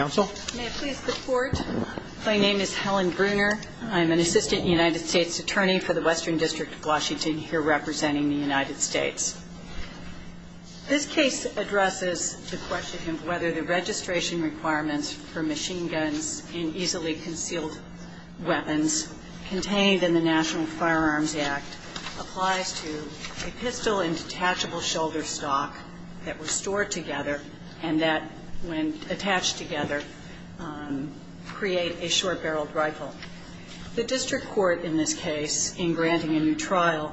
My name is Helen Bruner. I'm an assistant United States attorney for the Western District of Washington here representing the United States. This case addresses the question of whether the registration requirements for machine guns and easily concealed weapons contained in the National Firearms Act applies to a pistol and detachable shoulder stock that were stored together and that, when attached together, create a short-barreled rifle. The district court in this case, in granting a new trial,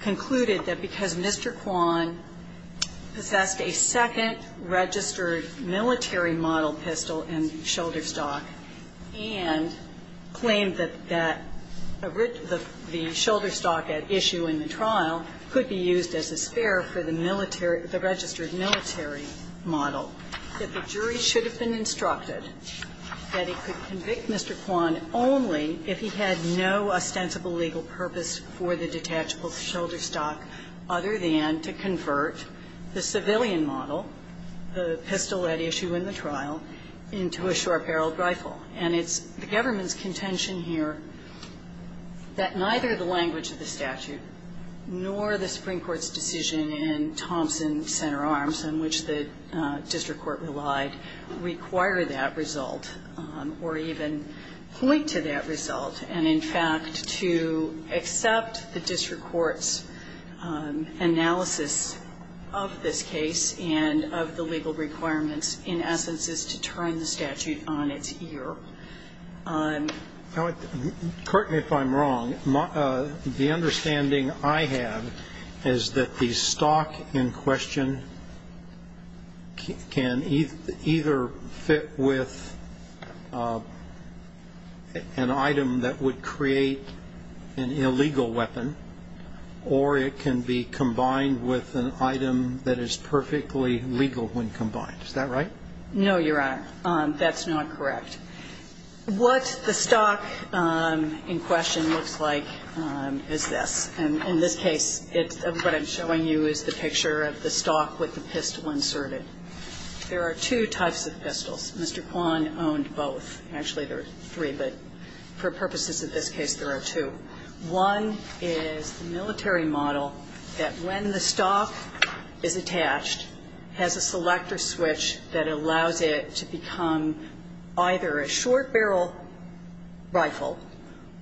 concluded that because Mr. Kwan possessed a second registered military model pistol and shoulder stock and claimed that the shoulder stock at issue in the trial could be used as a spare for the military, the registered military model, that the jury should have been instructed that it could convict Mr. Kwan only if he had no ostensible legal purpose for the detachable shoulder stock other than to convert the civilian model, the pistol at issue in the trial, into a short-barreled rifle. And it's the government's contention here that neither the language of the statute nor the Supreme Court's decision in Thompson Center Arms, on which the district court relied, require that result or even point to that result. And, in fact, to accept the district court's analysis of this case and of the legal requirements, in essence, is to turn the statute on its ear. I'm wrong. The understanding I have is that the stock in question can either fit with an item that would create an illegal weapon or it can be combined with an item that is perfectly legal when combined. Is that right? No, Your Honor. That's not correct. What the stock in question looks like is this. And in this case, what I'm showing you is the picture of the stock with the pistol inserted. There are two types of pistols. Mr. Kwan owned both. Actually, there are three, but for purposes of this case, there are two. One is the military model that, when the stock is attached, has a selector switch that allows it to become either a short barrel rifle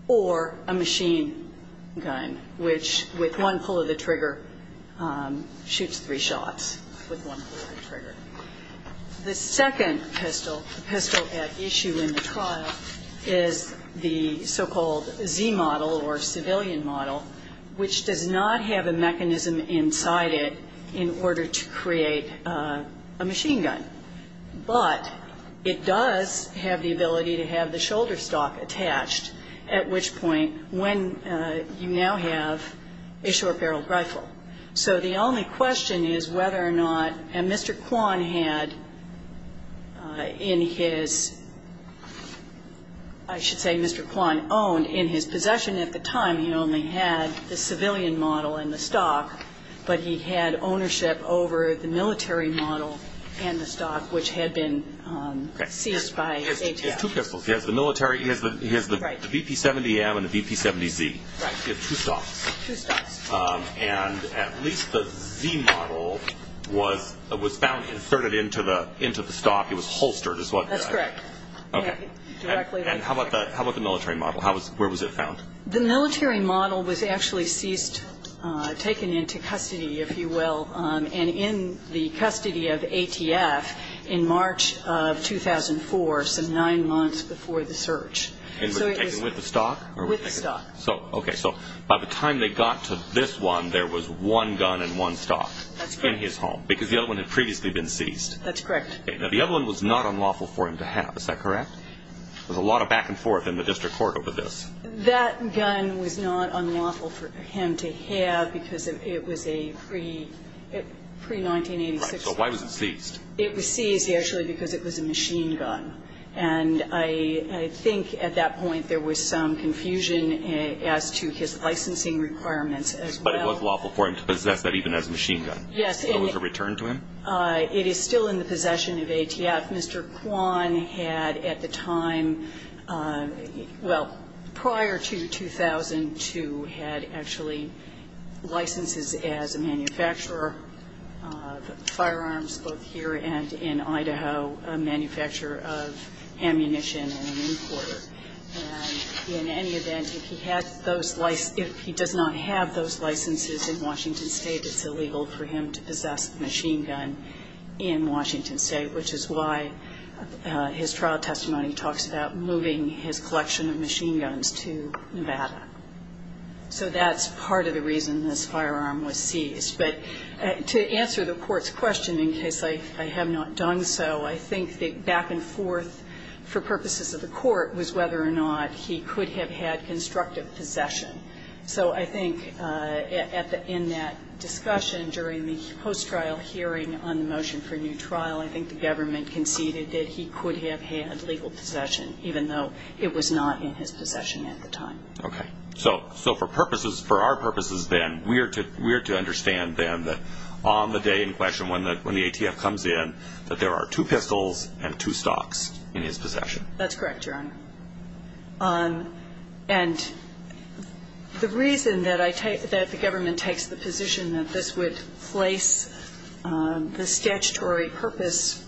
or a machine gun, which, with one pull of the trigger, shoots three shots with one pull of the trigger. The second pistol at issue in the trial is the so-called Z model or civilian model, which does not have a mechanism inside it in order to create a machine gun. But it does have the ability to have the shoulder stock attached, at which point when you now have a short barrel rifle. So the only question is whether or not Mr. Kwan had in his, I should say Mr. Kwan owned, in his possession at the time, he only had the civilian model in the stock, but he had ownership over the military model and the stock, which had been seized by ATF. He has two pistols. He has the military. He has the BP-70M and the BP-70Z. Right. He has two stocks. Two stocks. And at least the Z model was found inserted into the stock. It was holstered. That's correct. Okay. And how about the military model? Where was it found? The military model was actually seized, taken into custody, if you will, and in the custody of ATF in March of 2004, so nine months before the search. Was it taken with the stock? With the stock. Okay. So by the time they got to this one, there was one gun and one stock in his home. That's correct. Because the other one had previously been seized. That's correct. Okay. Now, the other one was not unlawful for him to have. Is that correct? There was a lot of back and forth in the district court over this. That gun was not unlawful for him to have because it was a pre-1986. Right. So why was it seized? It was seized, actually, because it was a machine gun. And I think at that point there was some confusion as to his licensing requirements as well. But it was lawful for him to possess that even as a machine gun? Yes. It was a return to him? It is still in the possession of ATF. Mr. Kwan had at the time, well, prior to 2002, had actually licenses as a manufacturer of firearms, both here and in Idaho, a manufacturer of ammunition and an importer. And in any event, if he does not have those licenses in Washington State, it's illegal for him to possess a machine gun in Washington State, which is why his trial testimony talks about moving his collection of machine guns to Nevada. So that's part of the reason this firearm was seized. But to answer the Court's question, in case I have not done so, I think the back and forth for purposes of the Court was whether or not he could have had constructive possession. So I think in that discussion during the post-trial hearing on the motion for new trial, I think the government conceded that he could have had legal possession, even though it was not in his possession at the time. Okay. So for purposes, for our purposes then, we are to understand then that on the day in question when the ATF comes in, that there are two pistols and two stocks in his possession. That's correct, Your Honor. And the reason that I take, that the government takes the position that this would place the statutory purpose,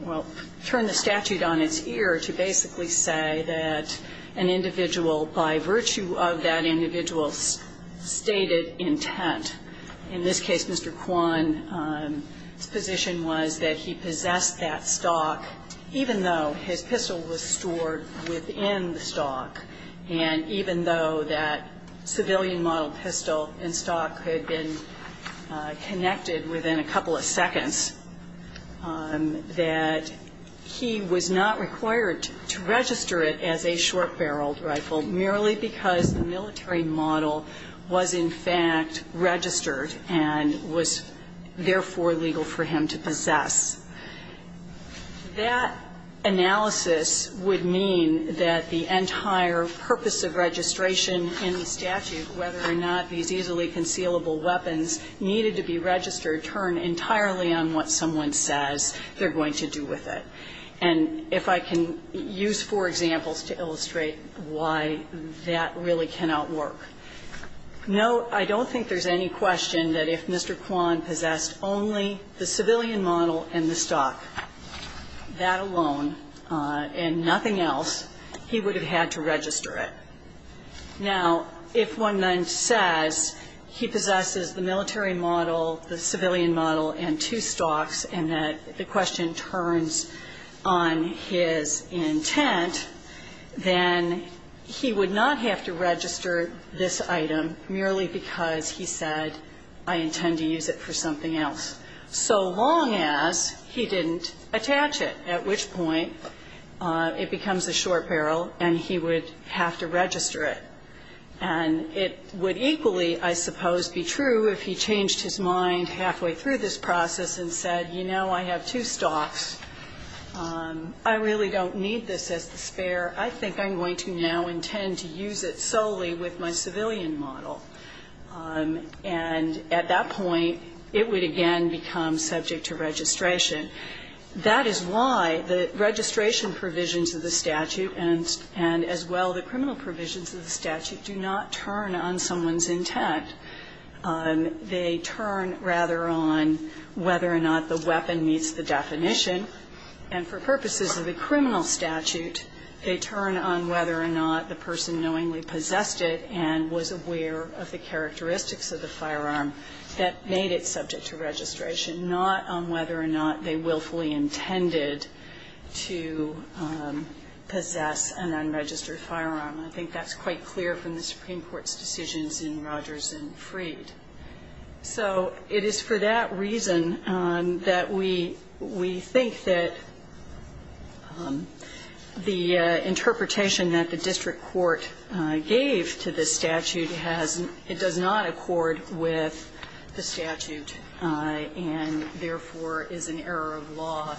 well, turn the statute on its ear to basically say that an individual by virtue of that individual's stated intent, in this case, Mr. Kwan's position was that he possessed that stock, even though his pistol was stored within the stock, and even though that civilian model pistol and stock had been connected within a couple of seconds, that he was not required to register it as a short-barreled rifle merely because the military model was in fact registered and was therefore legal for him to possess. That analysis would mean that the entire purpose of registration in the statute, whether or not these easily concealable weapons needed to be registered, would turn entirely on what someone says they're going to do with it. And if I can use four examples to illustrate why that really cannot work. Note, I don't think there's any question that if Mr. Kwan possessed only the civilian model and the stock, that alone and nothing else, he would have had to register it. Now, if one then says he possesses the military model, the civilian model, and two stocks, and that the question turns on his intent, then he would not have to register this item merely because he said, I intend to use it for something else, so long as he didn't attach it, at which point it becomes a short barrel and he would have to register it. And it would equally, I suppose, be true if he changed his mind halfway through this process and said, you know, I have two stocks. I really don't need this as the spare. I think I'm going to now intend to use it solely with my civilian model. And at that point, it would again become subject to registration. That is why the registration provisions of the statute and as well the criminal provisions of the statute do not turn on someone's intent. They turn rather on whether or not the weapon meets the definition. And for purposes of the criminal statute, they turn on whether or not the person knowingly possessed it and was aware of the characteristics of the firearm that made it subject to registration, not on whether or not they willfully intended to possess an unregistered firearm. I think that's quite clear from the Supreme Court's decisions in Rogers and Freed. So it is for that reason that we think that the interpretation that the district court gave to this statute has not – it does not accord with the statute and therefore is an error of law,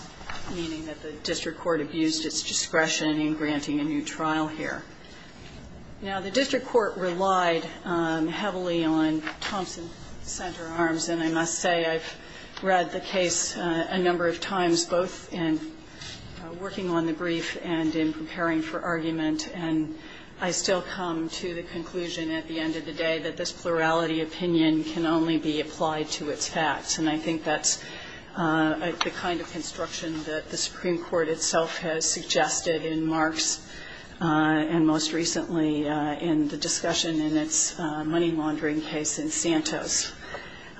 meaning that the district court abused its discretion in granting a new trial here. Now, the district court relied heavily on Thompson center arms, and I must say I've read the case a number of times, both in working on the brief and in preparing for argument, and I still come to the conclusion at the end of the day that this plurality opinion can only be applied to its facts. And I think that's the kind of construction that the Supreme Court itself has suggested in Marks and most recently in the discussion in its money laundering case in Santos.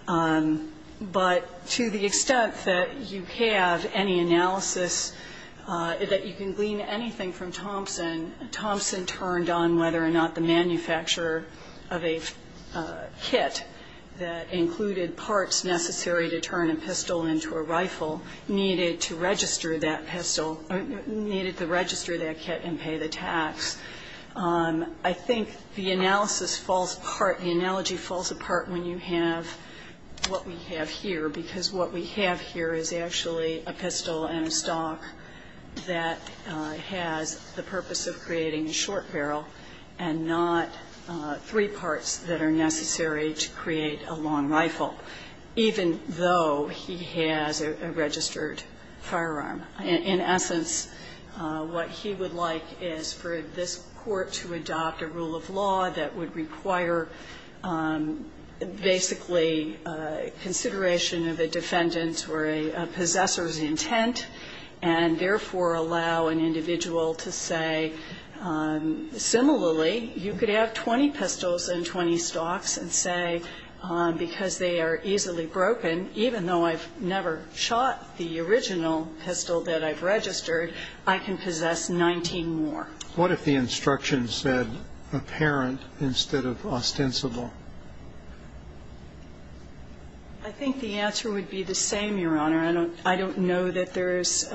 But to the extent that you have any analysis that you can glean anything from Thompson, Thompson turned on whether or not the manufacturer of a kit that included parts necessary to turn a pistol into a rifle needed to register that pistol – needed to register that kit and pay the tax. I think the analysis falls apart, the analogy falls apart when you have what we have here, because what we have here is actually a pistol and a stock that has the purpose of creating a short barrel and not three parts that are necessary to create a long rifle, even though he has a registered firearm. In essence, what he would like is for this Court to adopt a rule of law that would require basically consideration of a defendant's or a possessor's intent and therefore allow an individual to say, similarly, you could have 20 pistols and 20 stocks and say, because they are easily broken, even though I've never shot the original pistol that I've registered, I can possess 19 more. What if the instruction said apparent instead of ostensible? I think the answer would be the same, Your Honor. I don't know that there is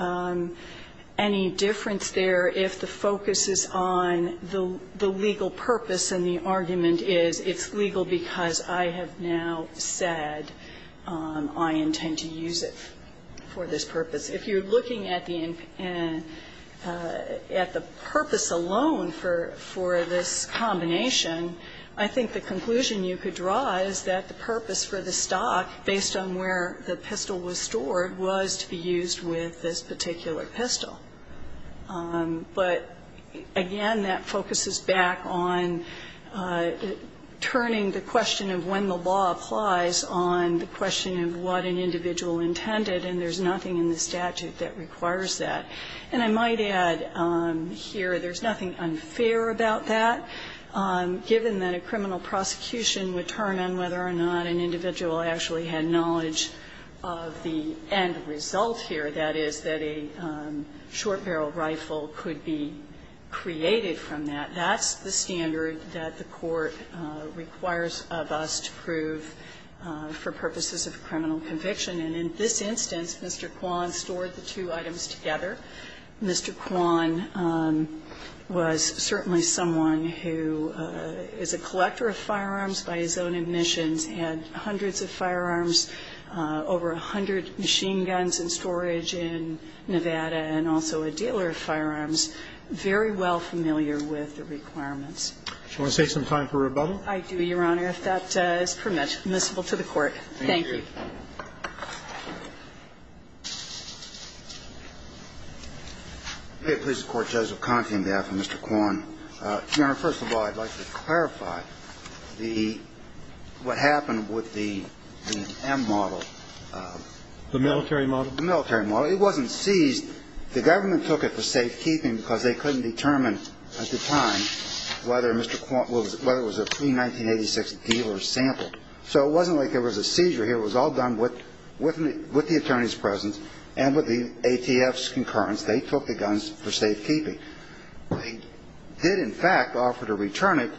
any difference there if the focus is on the legal purpose and the argument is it's legal because I have now said I intend to use it for this purpose. If you're looking at the purpose alone for this combination, I think the conclusion you could draw is that the purpose for the stock, based on where the pistol was stored, was to be used with this particular pistol. But, again, that focuses back on turning the question of when the law applies on the question of what an individual intended. And there's nothing in the statute that requires that. And I might add here there's nothing unfair about that, given that a criminal prosecution would turn on whether or not an individual actually had knowledge of the end result here, that is, that a short barrel rifle could be created from that. That's the standard that the Court requires of us to prove for purposes of criminal conviction. And in this instance, Mr. Kwan stored the two items together. Mr. Kwan was certainly someone who is a collector of firearms by his own admissions, had hundreds of firearms, over 100 machine guns in storage in Nevada, and also a dealer of firearms, very well familiar with the requirements. Roberts. Do you want to take some time for rebuttal? I do, Your Honor, if that is permissible to the Court. Thank you. Thank you. May it please the Court. Joseph Conti on behalf of Mr. Kwan. Your Honor, first of all, I'd like to clarify the what happened with the M model. The military model? The military model. It wasn't seized. The government took it for safekeeping because they couldn't determine at the time whether Mr. Kwan was a pre-1986 dealer sample. So it wasn't like there was a seizure here. It was all done with the attorney's presence and with the ATF's concurrence. They took the guns for safekeeping. They did, in fact, offer to return it,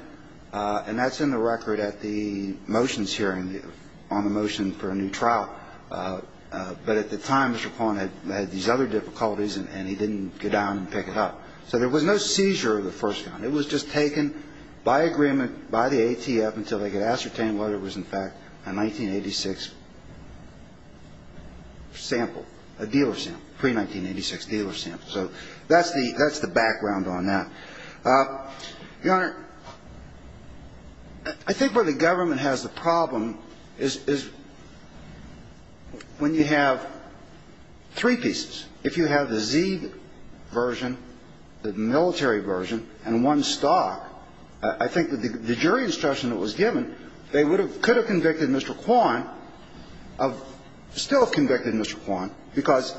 and that's in the record at the motions hearing on the motion for a new trial. But at the time, Mr. Kwan had these other difficulties, and he didn't go down and pick it up. So there was no seizure of the first gun. It was just taken by agreement by the ATF until they could ascertain whether it was, in fact, a 1986 sample, a dealer sample, pre-1986 dealer sample. So that's the background on that. Your Honor, I think where the government has the problem is when you have three pieces. If you have the Zed version, the military version, and one stock, I think the jury instruction that was given, they could have convicted Mr. Kwan, still convicted Mr. Kwan, because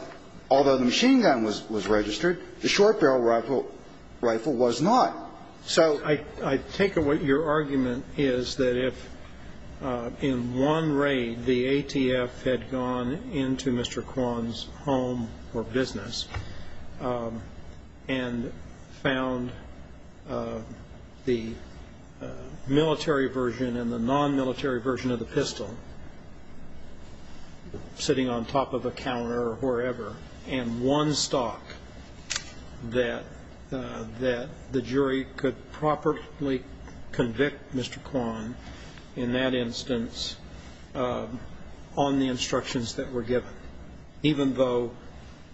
although the machine gun was registered, the short barrel rifle was not. So I think what your argument is that if in one raid the ATF had gone into Mr. Kwan's home or business and found the military version and the non-military version of the pistol sitting on top of a counter or wherever, and one stock, that the jury could properly convict Mr. Kwan, in that instance, on the instructions that were given, even though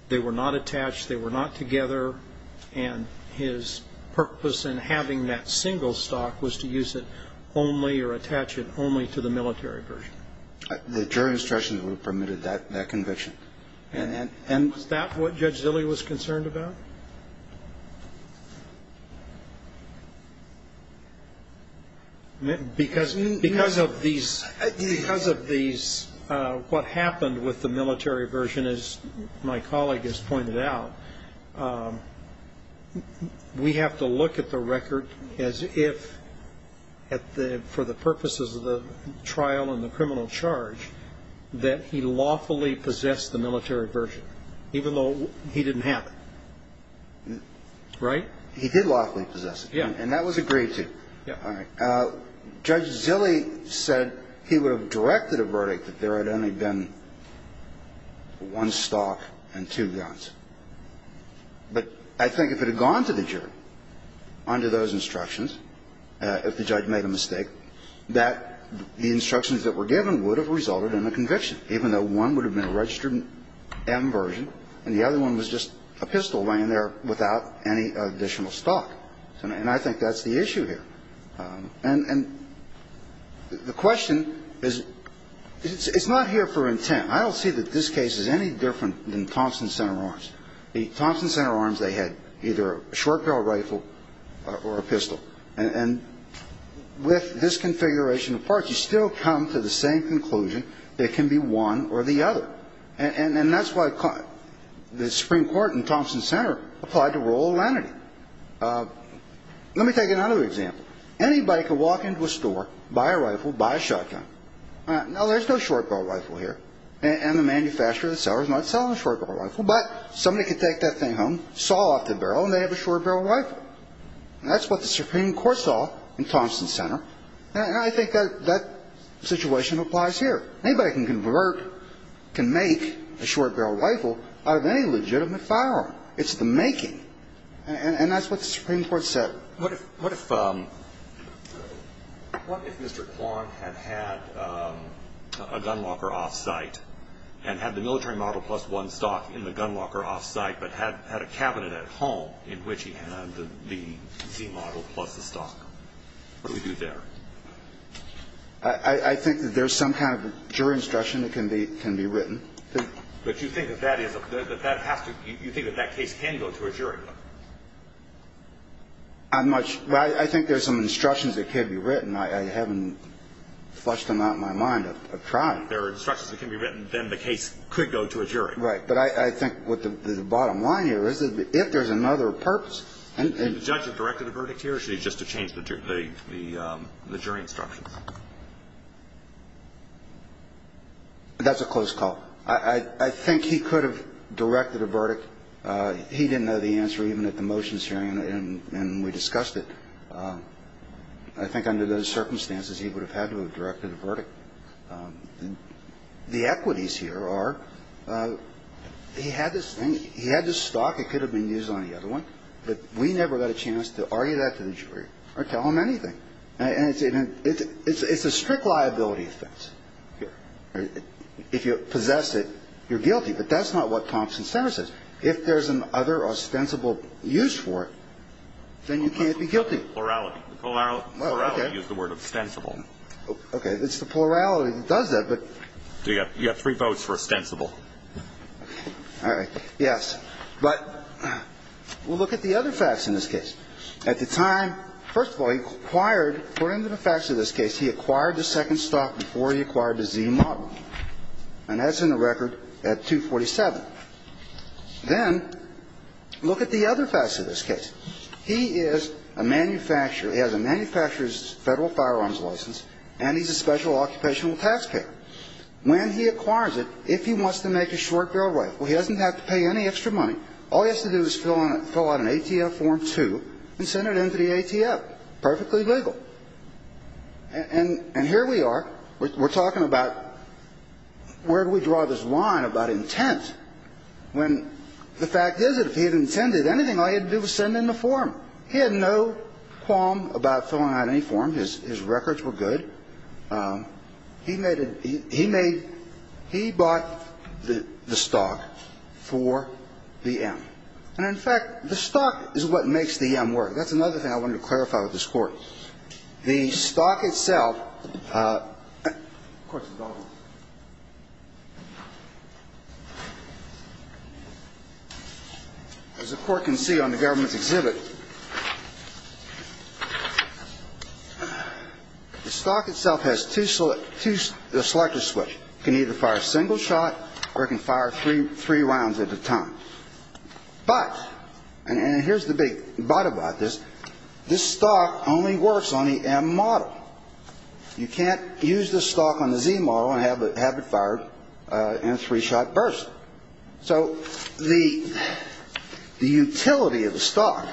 they were not attached, they were not together, and his purpose in having that single stock was to use it only or attach it only to the military version. The jury instructions would have permitted that conviction. And was that what Judge Zille was concerned about? Because of these what happened with the military version, as my colleague has pointed out, we have to look at the record as if for the purposes of the trial and the criminal charge that he lawfully possessed the military version, even though he didn't have it. Right? He did lawfully possess it. Yeah. And that was agreed to. All right. Judge Zille said he would have directed a verdict that there had only been one stock and two guns. But I think if it had gone to the jury under those instructions, if the judge made a mistake, that the instructions that were given would have resulted in a conviction, even though one would have been a registered M version and the other one was just a pistol laying there without any additional stock. And I think that's the issue here. And the question is, it's not here for intent. I don't see that this case is any different than Thompson Center Arms. The Thompson Center Arms, they had either a short barrel rifle or a pistol. And with this configuration of parts, you still come to the same conclusion that it can be one or the other. And that's why the Supreme Court in Thompson Center applied the rule of lenity. Let me take another example. Anybody could walk into a store, buy a rifle, buy a shotgun. Now, there's no short barrel rifle here. And the manufacturer, the seller is not selling a short barrel rifle. But somebody could take that thing home, saw off the barrel, and they have a short barrel rifle. And that's what the Supreme Court saw in Thompson Center. And I think that situation applies here. Anybody can convert, can make a short barrel rifle out of any legitimate firearm. It's the making. And that's what the Supreme Court said. What if Mr. Kwan had had a gun locker off-site and had the military model plus one stock in the gun locker off-site but had a cabinet at home in which he had the C model plus the stock? What would he do there? I think that there's some kind of jury instruction that can be written. But you think that that is a – that that has to – you think that that case can go to a jury? I'm not – I think there's some instructions that can be written. I haven't flushed them out in my mind. I've tried. If there are instructions that can be written, then the case could go to a jury. Right. But I think what the bottom line here is that if there's another purpose and – That's a close call. I think he could have directed a verdict. He didn't know the answer even at the motions hearing, and we discussed it. I think under those circumstances he would have had to have directed a verdict. The equities here are he had this thing, he had this stock. It could have been used on the other one. But we never got a chance to argue that to the jury or tell them anything. And it's a strict liability offense. If you possess it, you're guilty. But that's not what Thompson Center says. If there's another ostensible use for it, then you can't be guilty. Plurality. Plurality is the word, ostensible. Okay. It's the plurality that does that, but – You have three votes for ostensible. All right. Yes. But we'll look at the other facts in this case. At the time, first of all, he acquired, according to the facts of this case, he acquired the second stock before he acquired the Z model. And that's in the record at 247. Then look at the other facts of this case. He is a manufacturer. He has a manufacturer's federal firearms license, and he's a special occupational taxpayer. When he acquires it, if he wants to make a short-deal rifle, he doesn't have to pay any extra money. All he has to do is fill out an ATF Form 2 and send it in to the ATF. Perfectly legal. And here we are. We're talking about where do we draw this line about intent when the fact is that if he had intended anything, all he had to do was send in the form. He had no qualm about filling out any form. His records were good. He made a, he made, he bought the stock for the M. And, in fact, the stock is what makes the M work. That's another thing I wanted to clarify with this Court. The stock itself, of course, as the Court can see on the government's exhibit, the stock itself has two selector switches. It can either fire a single shot or it can fire three rounds at a time. But, and here's the big but about this, this stock only works on the M model. You can't use this stock on the Z model and have it fired in a three-shot burst. So the utility of the stock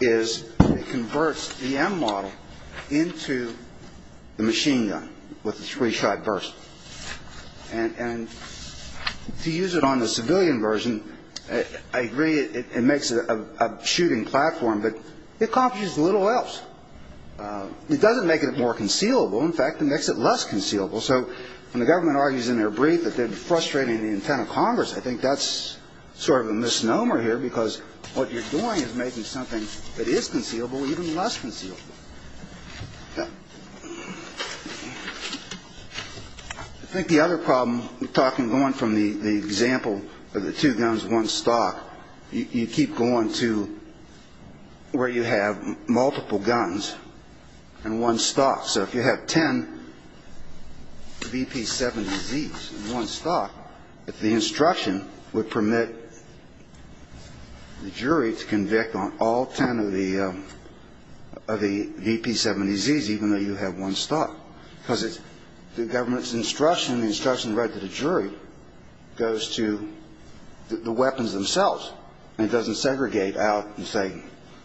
is it converts the M model into the machine gun with the three-shot burst. And to use it on the civilian version, I agree it makes it a shooting platform, but it accomplishes little else. It doesn't make it more concealable. In fact, it makes it less concealable. So when the government argues in their brief that they're frustrating the intent of Congress, I think that's sort of a misnomer here because what you're doing is making something that is concealable even less concealable. I think the other problem with talking, going from the example of the two guns, one stock, you keep going to where you have multiple guns and one stock. So if you have ten VP-70Zs in one stock, if the instruction would permit the jury to convict on all ten of the VP-70Zs, even though you have one stock because it's the government's instruction, the instruction read to the jury goes to the weapons themselves. And it doesn't segregate out and say,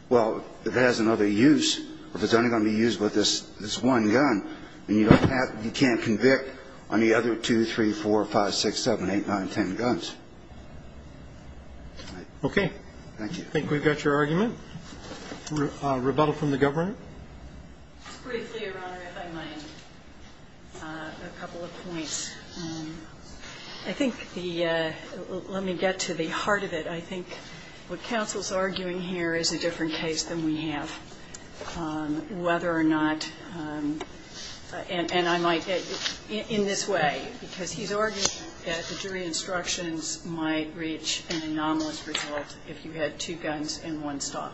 well, if it has another use, if it's only going to be used with this one gun, then you can't convict on the other two, three, four, five, six, seven, eight, nine, ten guns. Okay. Thank you. I think we've got your argument. Rebuttal from the government? Briefly, Your Honor, if I might. A couple of points. I think the – let me get to the heart of it. I think what counsel's arguing here is a different case than we have, whether or not – and I might – in this way, because he's arguing that the jury instructions might reach an anomalous result if you had two guns and one stock.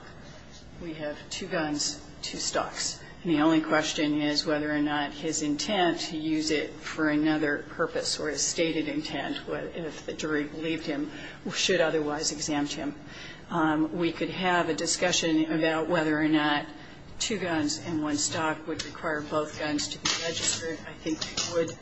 We have two guns, two stocks. And the only question is whether or not his intent to use it for another purpose or his stated intent, if the jury believed him, should otherwise exempt him. We could have a discussion about whether or not two guns and one stock would require both guns to be registered. I think we would.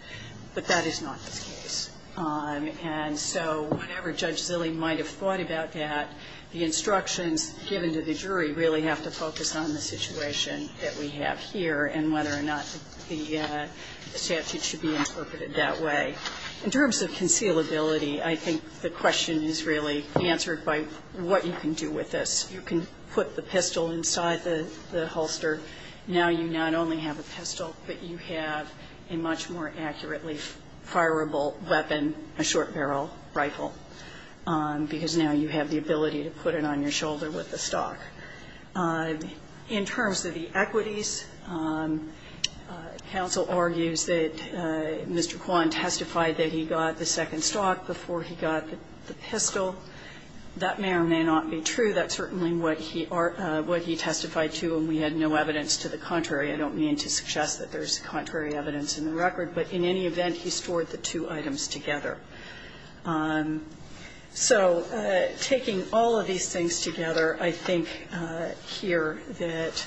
But that is not the case. And so whatever Judge Zille might have thought about that, the instructions given to the jury really have to focus on the situation that we have here and whether or not the statute should be interpreted that way. In terms of concealability, I think the question is really answered by what you can do with this. You can put the pistol inside the holster. Now you not only have a pistol, but you have a much more accurately fireable weapon, a short barrel rifle, because now you have the ability to put it on your shoulder with the stock. In terms of the equities, counsel argues that Mr. Kwan testified that he got the second stock before he got the pistol. That may or may not be true. That's certainly what he testified to, and we had no evidence to the contrary. I don't mean to suggest that there's contrary evidence in the record. But in any event, he stored the two items together. So taking all of these things together, I think here that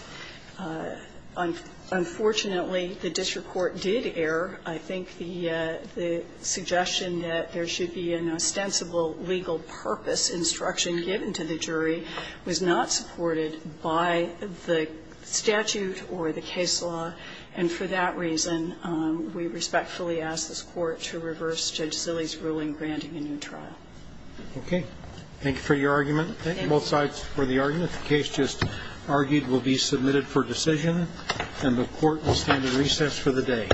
unfortunately the district court did err. I think the suggestion that there should be an ostensible legal purpose instruction given to the jury was not supported by the statute or the case law. And for that reason, we respectfully ask this court to reverse Judge Zille's ruling granting a new trial. Okay. Thank you for your argument. Thank you both sides for the argument. The case just argued will be submitted for decision, and the court will stand at recess for the day.